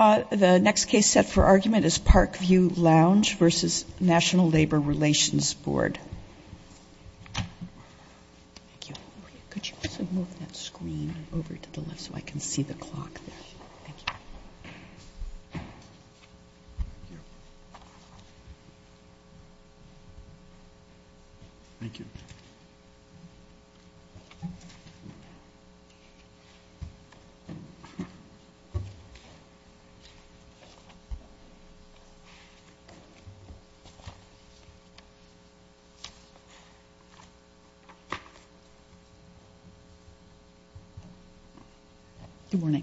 The next case set for argument is Parkview Lounge v. National Labor Relations Board. Good morning.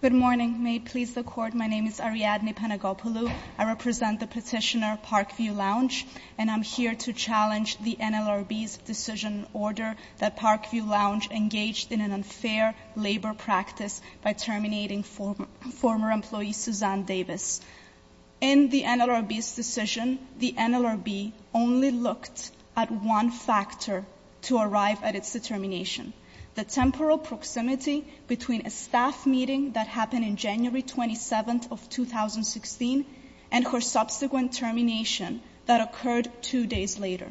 Good morning. May it please the Court, my name is Ariadne Panagopoulou. I represent the petitioner Parkview Lounge, and I'm here to challenge the NLRB's decision order that Parkview Lounge engaged in an unfair labor practice by terminating former employee Suzanne Davis. In the NLRB's decision, the NLRB only looked at one factor to arrive at its determination, the temporal proximity between a staff meeting that happened in January 27th of 2016 and her subsequent termination that occurred two days later.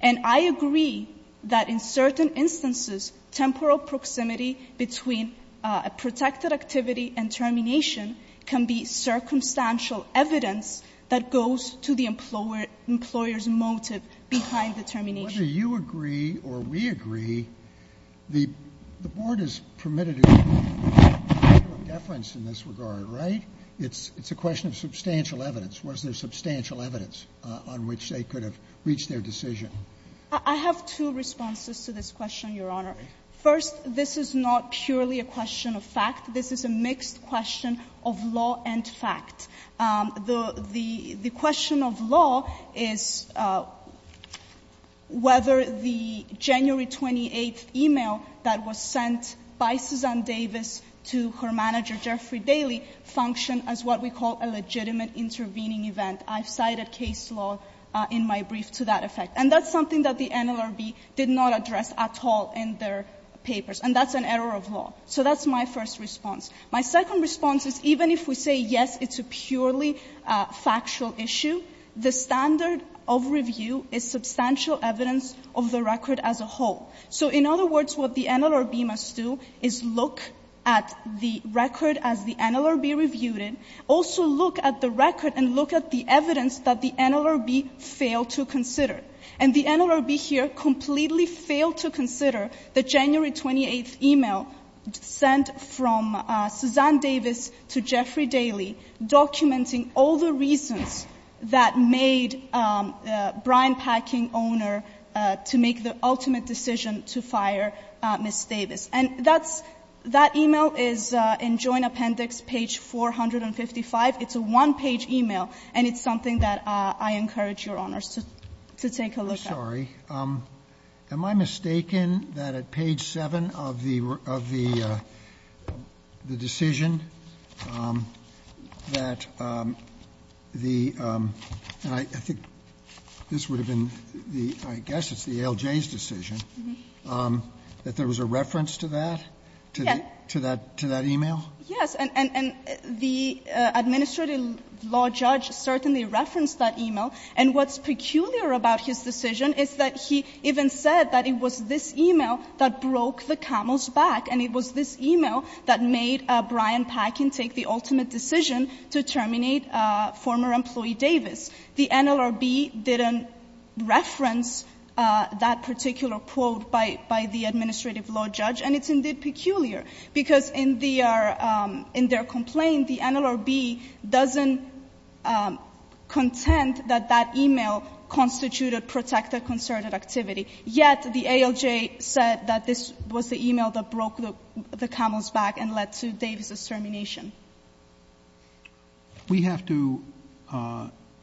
And I agree that in certain instances, temporal proximity between a protected activity and termination can be circumstantial evidence that goes to the employer's motive behind the termination. Whether you agree or we agree, the Board has permitted a deference in this regard, right? It's a question of substantial evidence. Was there substantial evidence on which they could have reached their decision? I have two responses to this question, Your Honor. First, this is not purely a question of fact. This is a mixed question of law and fact. The question of law is whether the January 28th email that was sent by Suzanne Davis to her manager Jeffrey Daley functioned as what we call a legitimate intervening event. I've cited case law in my brief to that effect. And that's something that the NLRB did not address at all in their papers, and that's an error of law. So that's my first response. My second response is even if we say, yes, it's a purely factual issue, the standard of review is substantial evidence of the record as a whole. So in other words, what the NLRB must do is look at the record as the NLRB reviewed it, also look at the record and look at the evidence that the NLRB failed to consider. And the NLRB here completely failed to consider the January 28th email sent from Suzanne Davis to Jeffrey Daley documenting all the reasons that made the brine-packing owner to make the ultimate decision to fire Ms. Davis. And that's — that email is in Joint Appendix page 455. It's a one-page email, and it's something that I encourage Your Honors to take a look Roberts. I'm sorry. Am I mistaken that at page 7 of the decision that the — and I think this would have been the — I guess it's the ALJ's decision, that there was a reference to that, to that email? Yes. And the administrative law judge certainly referenced that email. And what's interesting is that he even said that it was this email that broke the camel's back and it was this email that made Brian Packin take the ultimate decision to terminate former employee Davis. The NLRB didn't reference that particular quote by the administrative law judge, and it's indeed peculiar, because in their complaint, the NLRB doesn't contend that that email constituted protected concerted activity. Yet the ALJ said that this was the email that broke the camel's back and led to Davis's termination. We have to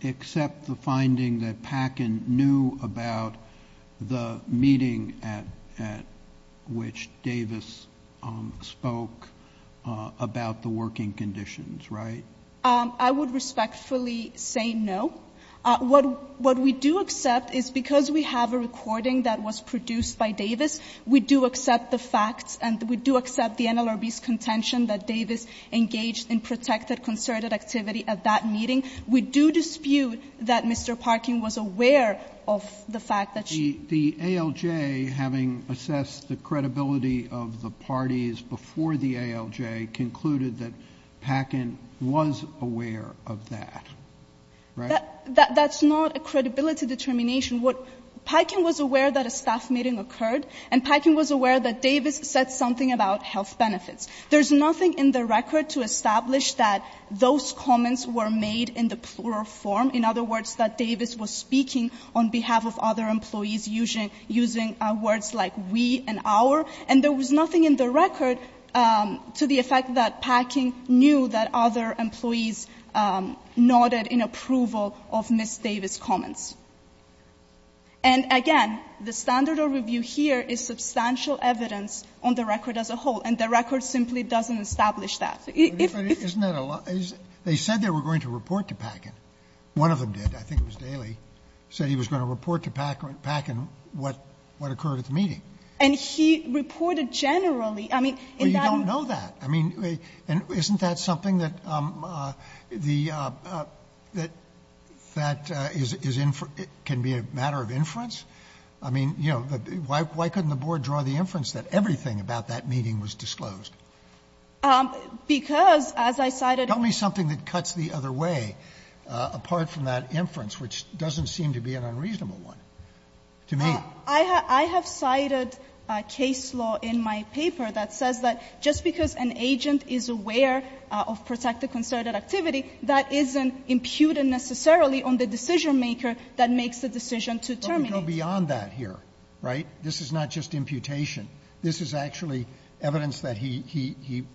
accept the finding that Packin knew about the meeting at which Davis spoke about the working conditions, right? I would respectfully say no. What we do accept is because we have a recording that was produced by Davis, we do accept the facts and we do accept the NLRB's contention that Davis engaged in protected concerted activity at that meeting. We do dispute that Mr. Parkin was aware of the fact that she — The ALJ, having assessed the credibility of the parties before the ALJ, concluded that Packin was aware of that, right? That's not a credibility determination. Packin was aware that a staff meeting occurred, and Packin was aware that Davis said something about health benefits. There's nothing in the record to establish that those comments were made in the plural form, in other words, that Davis was speaking on behalf of other employees using words like we and our. And there was nothing in the record to the effect that Packin knew that other employees nodded in approval of Ms. Davis's comments. And again, the standard of review here is substantial evidence on the record as a whole, and the record simply doesn't establish that. If — Isn't that a lot? They said they were going to report to Packin. One of them did. I think it was Daly, said he was going to report to Packin what occurred at the meeting. And he reported generally. I mean, in that— Well, you don't know that. I mean, isn't that something that the — that is — can be a matter of inference? I mean, you know, why couldn't the Board draw the inference that everything about that meeting was disclosed? Because, as I cited— Tell me something that cuts the other way apart from that inference, which doesn't seem to be an unreasonable one to me. I have cited a case law in my paper that says that just because an agent is aware of protected concerted activity, that isn't imputed necessarily on the decision maker that makes the decision to terminate. But we go beyond that here, right? This is not just imputation. This is actually evidence that he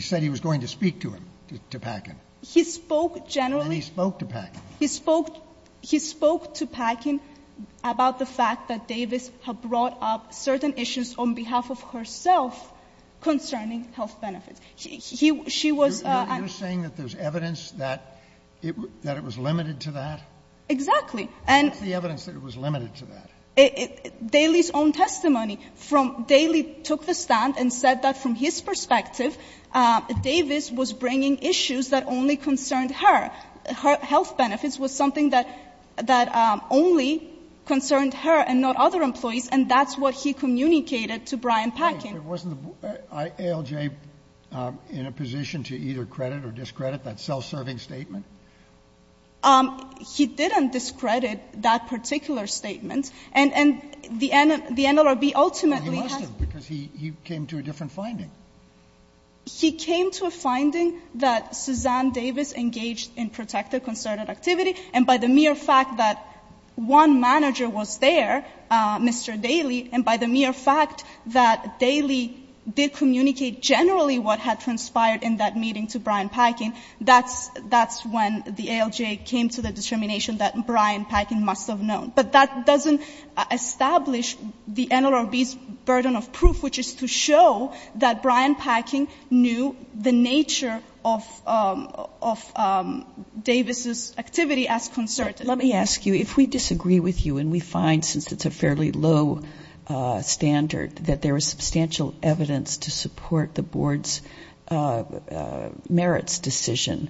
said he was going to speak to him, to Packin. He spoke generally— And he spoke to Packin. He spoke to Packin about the fact that Davis had brought up certain issues on behalf of herself concerning health benefits. She was— You're saying that there's evidence that it was limited to that? Exactly. And— What's the evidence that it was limited to that? Daly's own testimony from — Daly took the stand and said that from his perspective, Davis was bringing issues that only concerned her. Her health benefits was something that only concerned her and not other employees, and that's what he communicated to Brian Packin. But wasn't the ALJ in a position to either credit or discredit that self-serving statement? He didn't discredit that particular statement. And the NLRB ultimately has— Well, he must have, because he came to a different finding. He came to a finding that Suzanne Davis engaged in protective concerted activity, and by the mere fact that one manager was there, Mr. Daly, and by the mere fact that Daly did communicate generally what had transpired in that meeting to Brian Packin when the ALJ came to the determination that Brian Packin must have known. But that doesn't establish the NLRB's burden of proof, which is to show that Brian Packin knew the nature of Davis's activity as concerted. Let me ask you, if we disagree with you, and we find, since it's a fairly low standard, that there is substantial evidence to support the board's merits decision,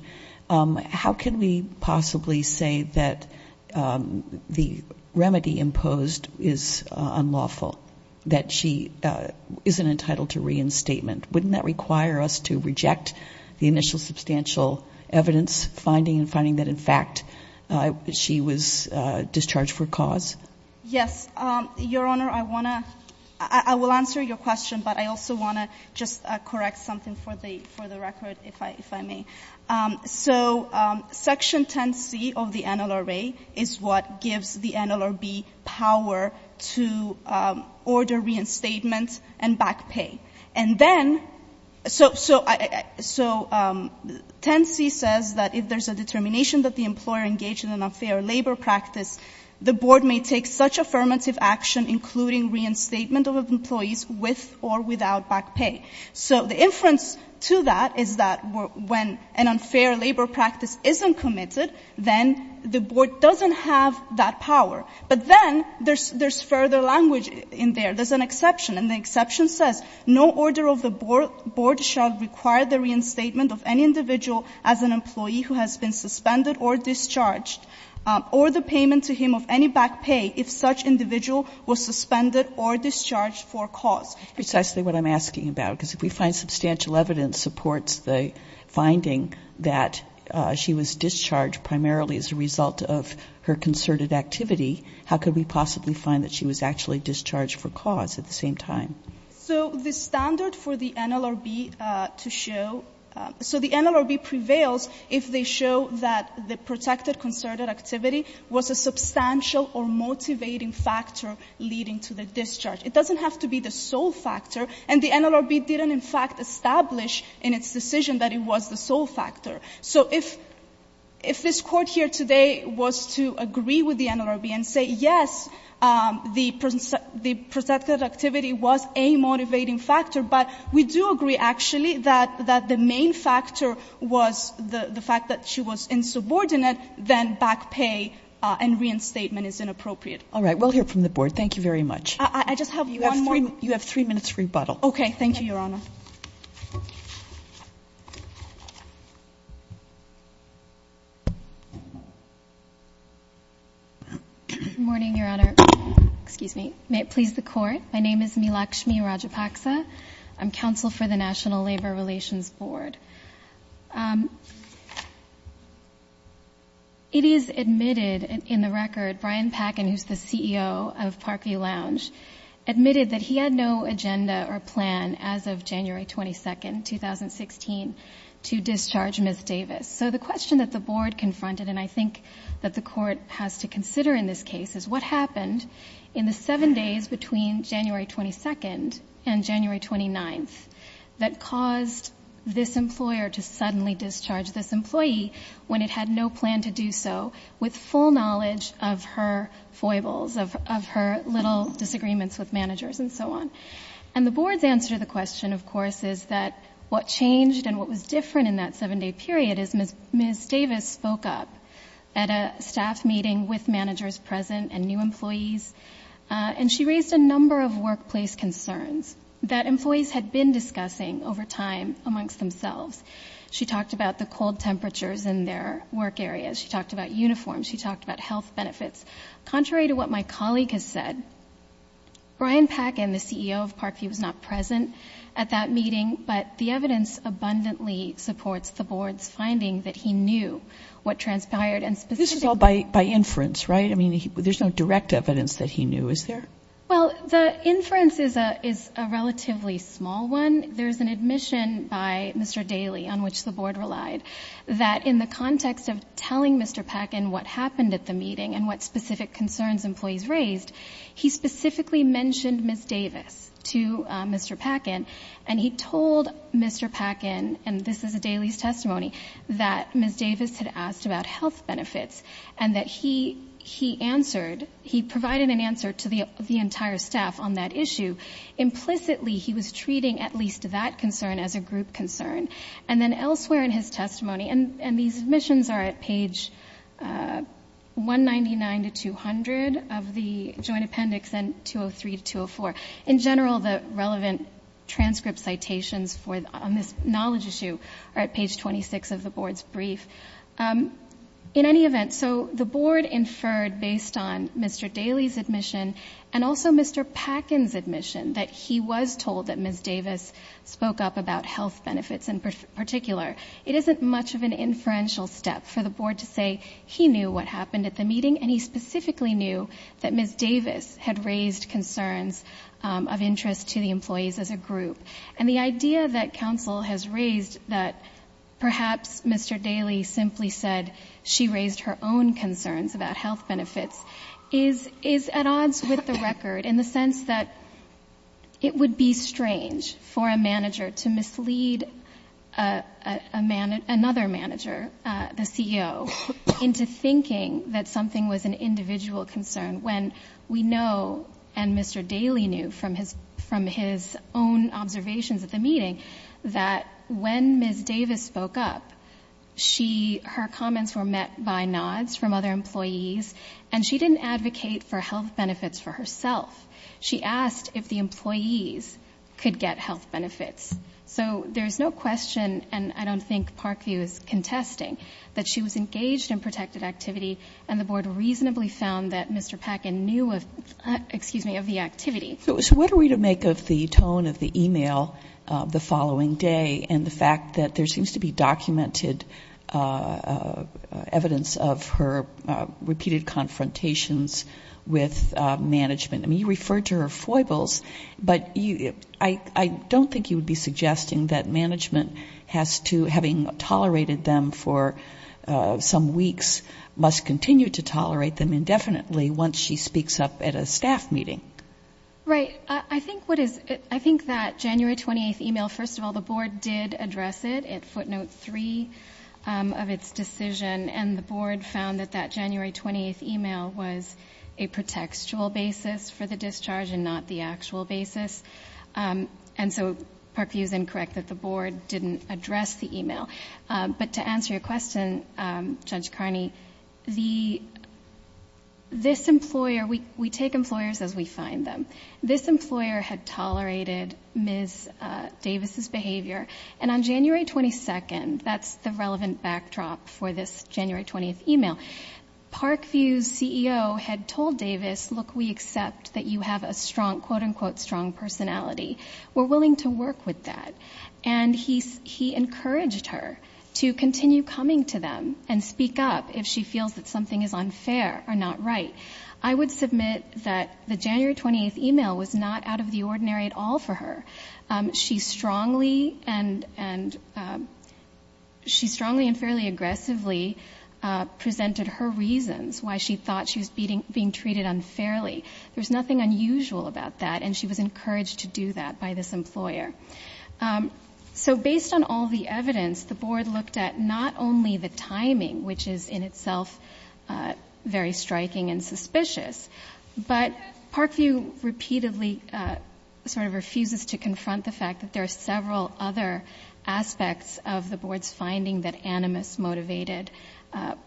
how can we possibly say that the remedy imposed is unlawful, that she isn't entitled to reinstatement? Wouldn't that require us to reject the initial substantial evidence finding and finding that, in fact, she was discharged for cause? Yes. Your Honor, I want to — I will answer your question, but I also want to just correct something for the record, if I may. So Section 10C of the NLRB is what gives the NLRB power to order reinstatement and back pay. And then — so 10C says that if there's a determination that the employer engaged in an unfair labor practice, the board may take such affirmative action, including reinstatement of employees with or without back pay. So the inference to that is that when an unfair labor practice isn't committed, then the board doesn't have that power. But then there's further language in there. There's an exception, and the exception says, no order of the board shall require the individual as an employee who has been suspended or discharged, or the payment to him of any back pay, if such individual was suspended or discharged for cause. That's precisely what I'm asking about, because if we find substantial evidence supports the finding that she was discharged primarily as a result of her concerted activity, how could we possibly find that she was actually discharged for cause at the same time? So the standard for the NLRB to show — so the NLRB prevails if they show that the protected concerted activity was a substantial or motivating factor leading to the discharge. It doesn't have to be the sole factor. And the NLRB didn't, in fact, establish in its decision that it was the sole factor. So if — if this Court here today was to agree with the NLRB and say, yes, the — the protected activity was a motivating factor, but we do agree, actually, that the main factor was the fact that she was insubordinate, then back pay and reinstatement is inappropriate. All right. We'll hear from the board. Thank you very much. I just have one more — You have three minutes for rebuttal. Okay. Thank you, Your Honor. Good morning, Your Honor. Excuse me. May it please the Court. My name is Meelakshmi Rajapaksa. I'm counsel for the National Labor Relations Board. It is admitted in the record Brian Packin, who's the CEO of Parkview Lounge, admitted that he had no agenda or plan as of January 22nd, 2016, to discharge Ms. Davis. So the question that the board confronted, and I think that the Court has to consider in this case, is what happened in the seven days between January 22nd and January 29th that caused this employer to suddenly discharge this employee when it had no plan to do so with full knowledge of her foibles, of her little disagreements with managers and so on. And the board's answer to the question, of course, is that what changed and what was different in that seven-day period is Ms. Davis spoke up at a staff meeting with managers present and new employees, and she raised a number of workplace concerns that employees had been discussing over time amongst themselves. She talked about the cold temperatures in their work areas. She talked about uniforms. She talked about health benefits. Contrary to what my colleague has said, Brian Packin, the CEO of Parkview, was not present at that meeting, but the evidence abundantly supports the board's finding that he knew what transpired, and specifically... This is all by inference, right? I mean, there's no direct evidence that he knew, is there? Well, the inference is a relatively small one. There's an admission by Mr. Daly, on which the board relied, that in the context of telling Mr. Packin what happened at the meeting and what specific concerns employees raised, he specifically mentioned Ms. Davis to Mr. Packin, and he told Mr. Packin, and this is a Daly's testimony, that Ms. Davis had asked about health benefits and that he answered, he provided an answer to the entire staff on that issue. Implicitly, he was treating at least that concern as a group concern. And then elsewhere in his testimony, and these admissions are at page 199-200 of the joint appendix and 203-204. In general, the relevant transcript citations on this knowledge issue are at page 26 of the board's brief. In any event, so the board inferred, based on Mr. Daly's admission and also Mr. Packin's admission, that he was told that Ms. Davis spoke up about health benefits in particular. It isn't much of an inferential step for the board to say he knew what happened at the meeting and he specifically knew that Ms. Davis had raised concerns of interest to the employees as a group. And the idea that counsel has raised that perhaps Mr. Daly simply said she raised her own concerns about health benefits is at odds with the record in the sense that it would be strange for a manager to mislead another manager, the CEO, into thinking that something was an individual concern when we know and Mr. Daly knew from his own observations at the meeting that when Ms. Davis spoke up, her comments were met by nods from other employees and she didn't advocate for health benefits for herself. She asked if the employees could get health benefits. So there's no question, and I don't think Parkview is contesting, that she was engaged in protected activity and the board reasonably found that Mr. Packin knew of, excuse me, of the activity. So what are we to make of the tone of the e-mail the following day and the fact that there seems to be documented evidence of her repeated confrontations with management? I mean, you referred to her foibles, but I don't think you would be suggesting that management has to, having tolerated them for some weeks, must continue to tolerate them indefinitely once she speaks up at a staff meeting. Right. I think that January 28th e-mail, first of all, the board did address it at footnote three of its decision and the board found that that January 28th e-mail was a pretextual basis for the discharge and not the actual basis. And so Parkview is incorrect that the board didn't address the e-mail. But to answer your question, Judge Carney, this employer, we take employers as we find them. This employer had tolerated Ms. Davis' behavior and on January 22nd, that's the relevant backdrop for this January 20th e-mail, Parkview's CEO had told Davis, look, we accept that you have a strong, quote-unquote, strong personality. We're willing to work with that. And he encouraged her to continue coming to them and speak up if she feels that something is unfair or not right. I would submit that the January 28th e-mail was not out of the ordinary at all for her. She strongly and fairly aggressively presented her reasons why she thought she was being treated unfairly. There's nothing unusual about that and she was encouraged to do that by this employer. So based on all the evidence, the board looked at not only the timing, which is in itself very striking and suspicious, but Parkview repeatedly sort of refuses to confront the fact that there are several other aspects of the board's finding that animus motivated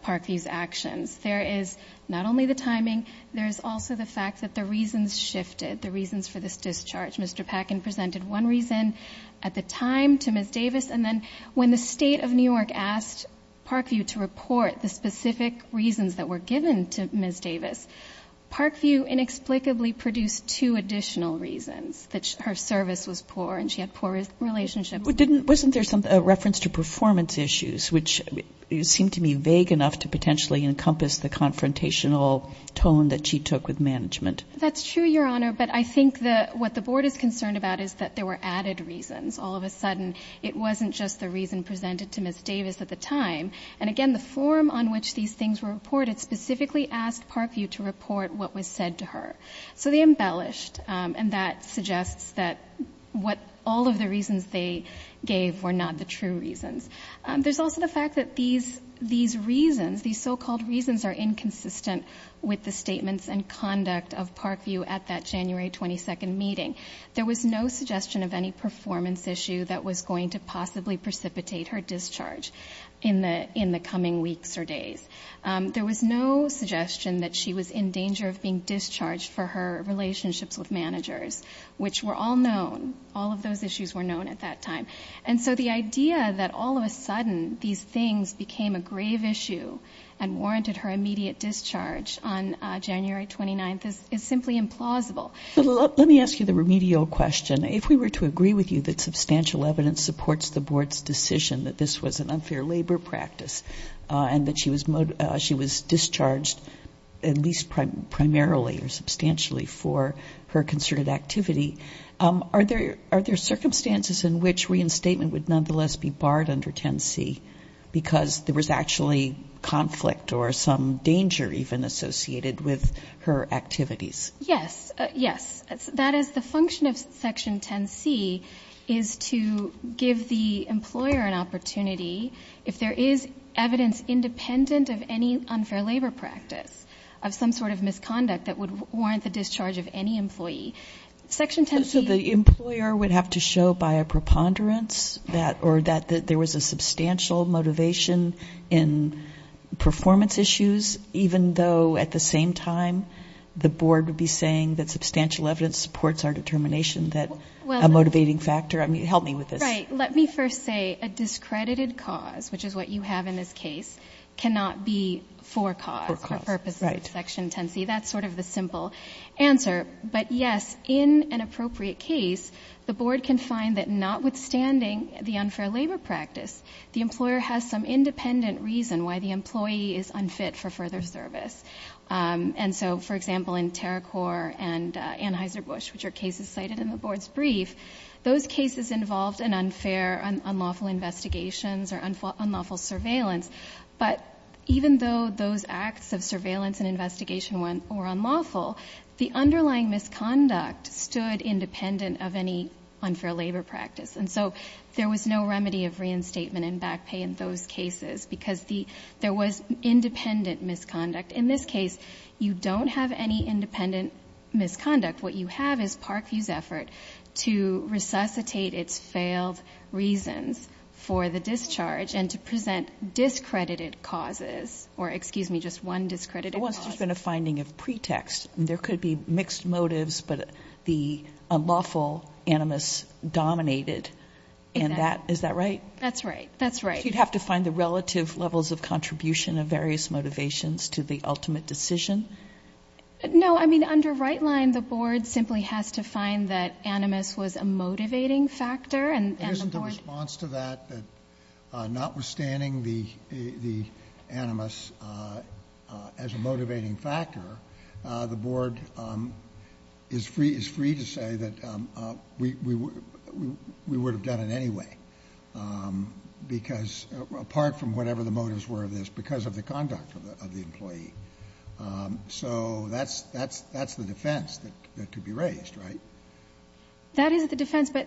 Parkview's actions. There is not only the timing, there's also the fact that the reasons shifted, the reasons for this discharge. Mr. Packin presented one reason at the time to Ms. Davis and then when the State of New York asked Parkview to report the specific reasons that were given to Ms. Davis, Parkview inexplicably produced two additional reasons, that her service was poor and she had poor relationships. Wasn't there a reference to performance issues, which seemed to me vague enough to potentially encompass the confrontational tone that she took with management? That's true, Your Honor, but I think what the board is concerned about is that there were added reasons. All of a sudden, it wasn't just the reason presented to Ms. Davis at the time. And again, the form on which these things were reported specifically asked Parkview to report what was said to her. So they embellished and that suggests that all of the reasons they gave were not the true reasons. There's also the fact that these reasons, these so-called reasons are inconsistent with the statements and conduct of Parkview at that January 22nd meeting. There was no suggestion of any performance issue that was going to possibly precipitate her discharge in the coming weeks or days. There was no suggestion that she was in danger of being discharged for her relationships with managers, which were all known. All of those issues were known at that time. And so the idea that all of a sudden, these things became a grave issue and warranted her immediate discharge on January 29th is simply implausible. Let me ask you the remedial question. If we were to agree with you that substantial evidence supports the board's decision that this was an unfair labor practice and that she was discharged at least primarily or substantially for her concerted activity, are there circumstances in which reinstatement would nonetheless be barred under 10C because there was actually conflict or some danger even associated with her activities? Yes, yes, that is the function of Section 10C is to give the employer an opportunity, if there is evidence independent of any unfair labor practice, of some sort of misconduct that would warrant the discharge of any employee. Section 10C... So the employer would have to show by a preponderance that or that there was a substantial motivation in performance issues, even though at the same time the board would be concerned about the fact that she was discharged. Are you saying that substantial evidence supports our determination that a motivating factor... I mean, help me with this. Right. Let me first say a discredited cause, which is what you have in this case, cannot be for cause or purposes of Section 10C. That's sort of the simple answer. But yes, in an appropriate case, the board can find that notwithstanding the unfair labor practice, the employer has some independent reason why the employee is unfit for further service. And so, for example, in Terracor and Anheuser-Busch, which are cases cited in the board's brief, those cases involved an unfair, unlawful investigations or unlawful surveillance. But even though those acts of surveillance and investigation were unlawful, the underlying misconduct stood independent of any unfair labor practice. And so there was no remedy of reinstatement and back pay in those cases because there was independent misconduct. In this case, you don't have any independent misconduct. What you have is Parkview's effort to resuscitate its failed reasons for the discharge and to present discredited causes or, excuse me, just one discredited cause. There could be mixed motives, but the unlawful animus dominated. And that, is that right? That's right, that's right. No, I mean, under right line, the board simply has to find that animus was a motivating factor and the board... It isn't a response to that, that notwithstanding the animus as a motivating factor, the board is free to say that we would have done it anyway. Because, apart from whatever the motives were of this, because of the conduct of the employee. So that's the defense that could be raised, right? That is the defense, but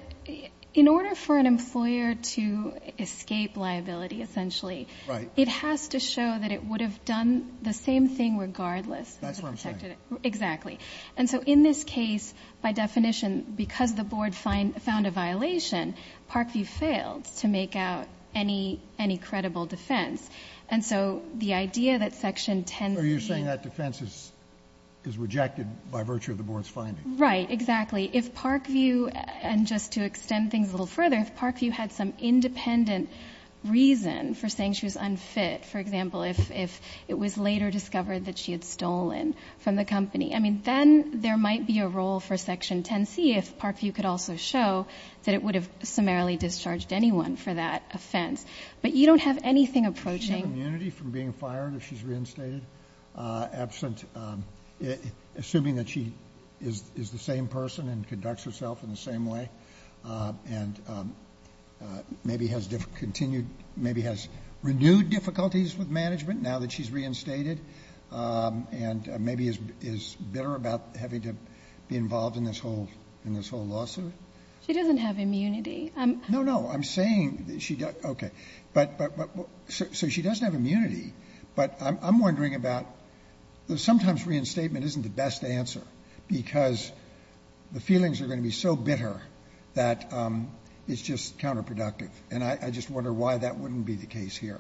in order for an employer to escape liability, essentially, it has to show that it would have done the same thing regardless. That's what I'm saying. Exactly. And so in this case, by definition, because the board found a violation, Parkview failed to make out any credible defense. And so the idea that section 10... Are you saying that defense is rejected by virtue of the board's finding? Right, exactly. If Parkview, and just to extend things a little further, if Parkview had some independent reason for saying she was unfit, for example, if it was later discovered that she had stolen from the company, then there might be a role for section 10C if Parkview could also show that it would have summarily discharged anyone for that offense. But you don't have anything approaching... Assuming that she is the same person and conducts herself in the same way, and maybe has renewed difficulties with management now that she's reinstated, and maybe is bitter about having to be involved in this whole lawsuit? She doesn't have immunity. No, no, I'm saying... So she doesn't have immunity, but I'm wondering about, sometimes reinstatement isn't the best answer, because the feelings are going to be so bitter that it's just counterproductive. And I just wonder why that wouldn't be the case here.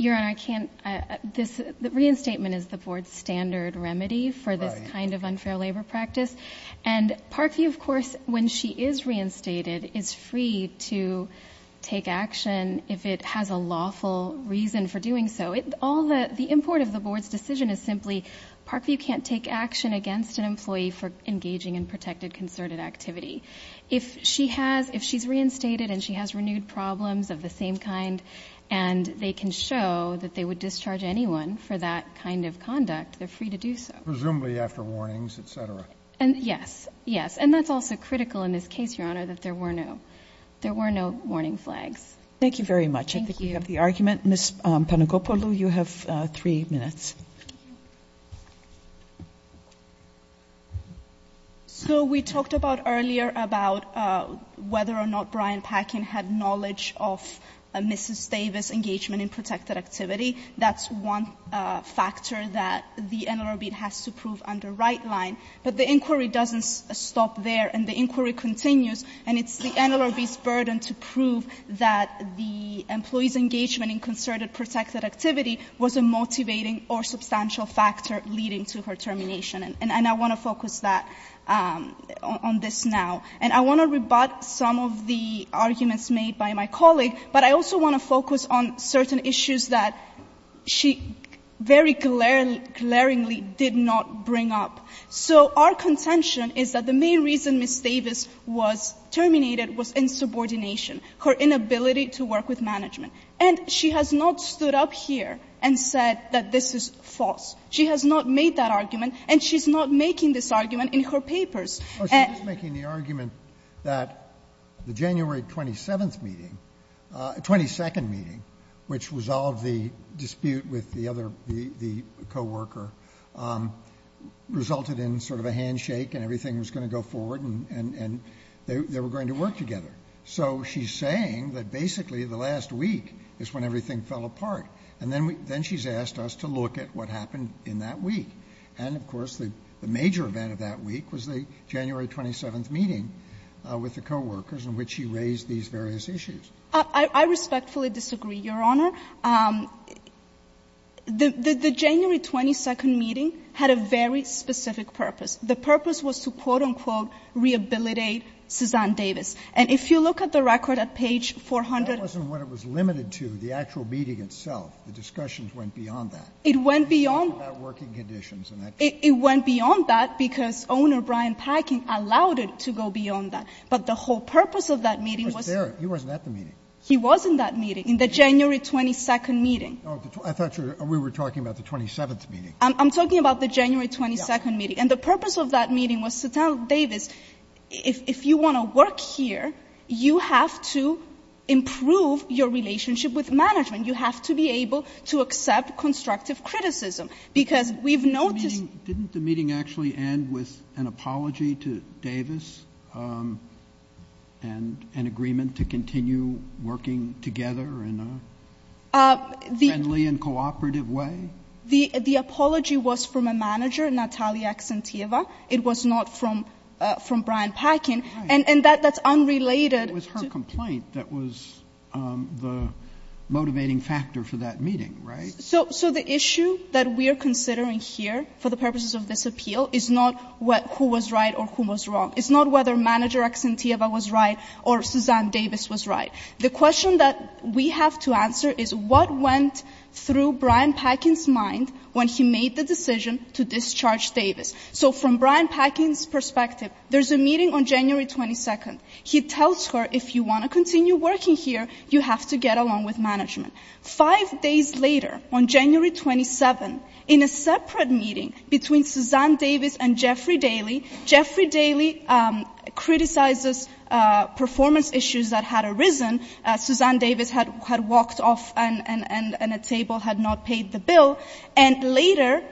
Reinstatement is the board's standard remedy for this kind of unfair labor practice. And Parkview, of course, when she is reinstated, is free to take action if it has a lawful reason for doing so. The import of the board's decision is simply, Parkview can't take action against an employee for engaging in protected concerted activity. If she's reinstated and she has renewed problems of the same kind, and they can show that they would discharge anyone for that kind of conduct, they're free to do so. Presumably after warnings, et cetera. Yes, yes. And that's also critical in this case, Your Honor, that there were no warning flags. Thank you very much. I think we have the argument. Ms. Panagopoulou, you have three minutes. So we talked earlier about whether or not Brian Packin had knowledge of Mrs. Davis' engagement in protected activity. That's one factor that the NLRB has to prove under right line. But the inquiry doesn't stop there, and the inquiry continues. And it's the NLRB's burden to prove that the employee's engagement in concerted protected activity was a motivating or substantial factor leading to her termination. And I want to focus that on this now. And I want to rebut some of the arguments made by my colleague, but I also want to focus on certain issues that she very glaringly did not bring up. So our contention is that the main reason Ms. Davis was terminated was insubordination, her inability to work with management. And she has not stood up here and said that this is false. She has not made that argument, and she's not making this argument in her papers. She was making the argument that the January 27th meeting, 22nd meeting, which resolved the dispute with the co-worker, resulted in sort of a handshake and everything was going to go forward and they were going to work together. So she's saying that basically the last week is when everything fell apart. And then she's asked us to look at what happened in that week. And, of course, the major event of that week was the January 27th meeting with the co-workers in which she raised these various issues. I respectfully disagree, Your Honor. The January 22nd meeting had a very specific purpose. The purpose was to, quote, unquote, rehabilitate Suzanne Davis. And if you look at the record at page 400. It wasn't what it was limited to, the actual meeting itself. The discussions went beyond that. It went beyond. It went beyond that because owner Brian Packing allowed it to go beyond that. But the whole purpose of that meeting was. He wasn't at the meeting. He was in that meeting, in the January 22nd meeting. We were talking about the 27th meeting. I'm talking about the January 22nd meeting. And the purpose of that meeting was to tell Davis. If you want to work here, you have to improve your relationship with management. You have to be able to accept constructive criticism. Because we've noticed. Didn't the meeting actually end with an apology to Davis? And an agreement to continue working together in a friendly and cooperative way? The apology was from a manager, Natalia Accentieva. It was not from Brian Packing. And that's unrelated. But it was her complaint that was the motivating factor for that meeting, right? So the issue that we are considering here for the purposes of this appeal is not who was right or who was wrong. It's not whether Manager Accentieva was right or Suzanne Davis was right. The question that we have to answer is what went through Brian Packing's mind when he made the decision to discharge Davis. So from Brian Packing's perspective, there's a meeting on January 22nd. He tells her, if you want to continue working here, you have to get along with management. Five days later, on January 27th, in a separate meeting between Suzanne Davis and Jeffrey Daly, Jeffrey Daly criticizes performance issues that had arisen. Suzanne Davis had walked off and a table had not paid the bill. And later,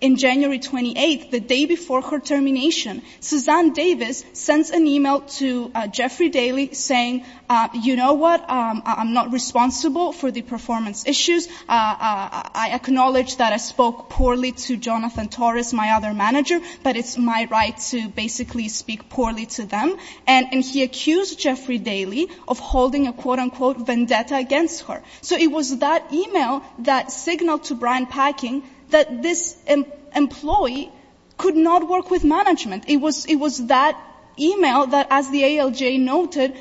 in January 28th, the day before her termination, Suzanne Davis sends an email to Jeffrey Daly saying, you know what, I'm not responsible for the performance issues. I acknowledge that I spoke poorly to Jonathan Torres, my other manager, but it's my right to basically speak poorly to them. And he accused Jeffrey Daly of holding a, quote, unquote, vendetta against her. So it was that email that signaled to Brian Packing that this employee could not work with management. It was that email that, as the ALJ noted,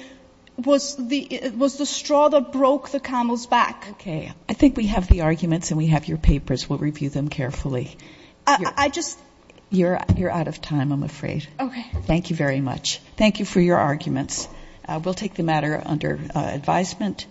was the straw that broke the camel's back. Okay. I think we have the arguments and we have your papers. We'll review them carefully. I just. You're out of time, I'm afraid. Okay. Thank you very much. Thank you for your arguments. We'll take the matter under advisement.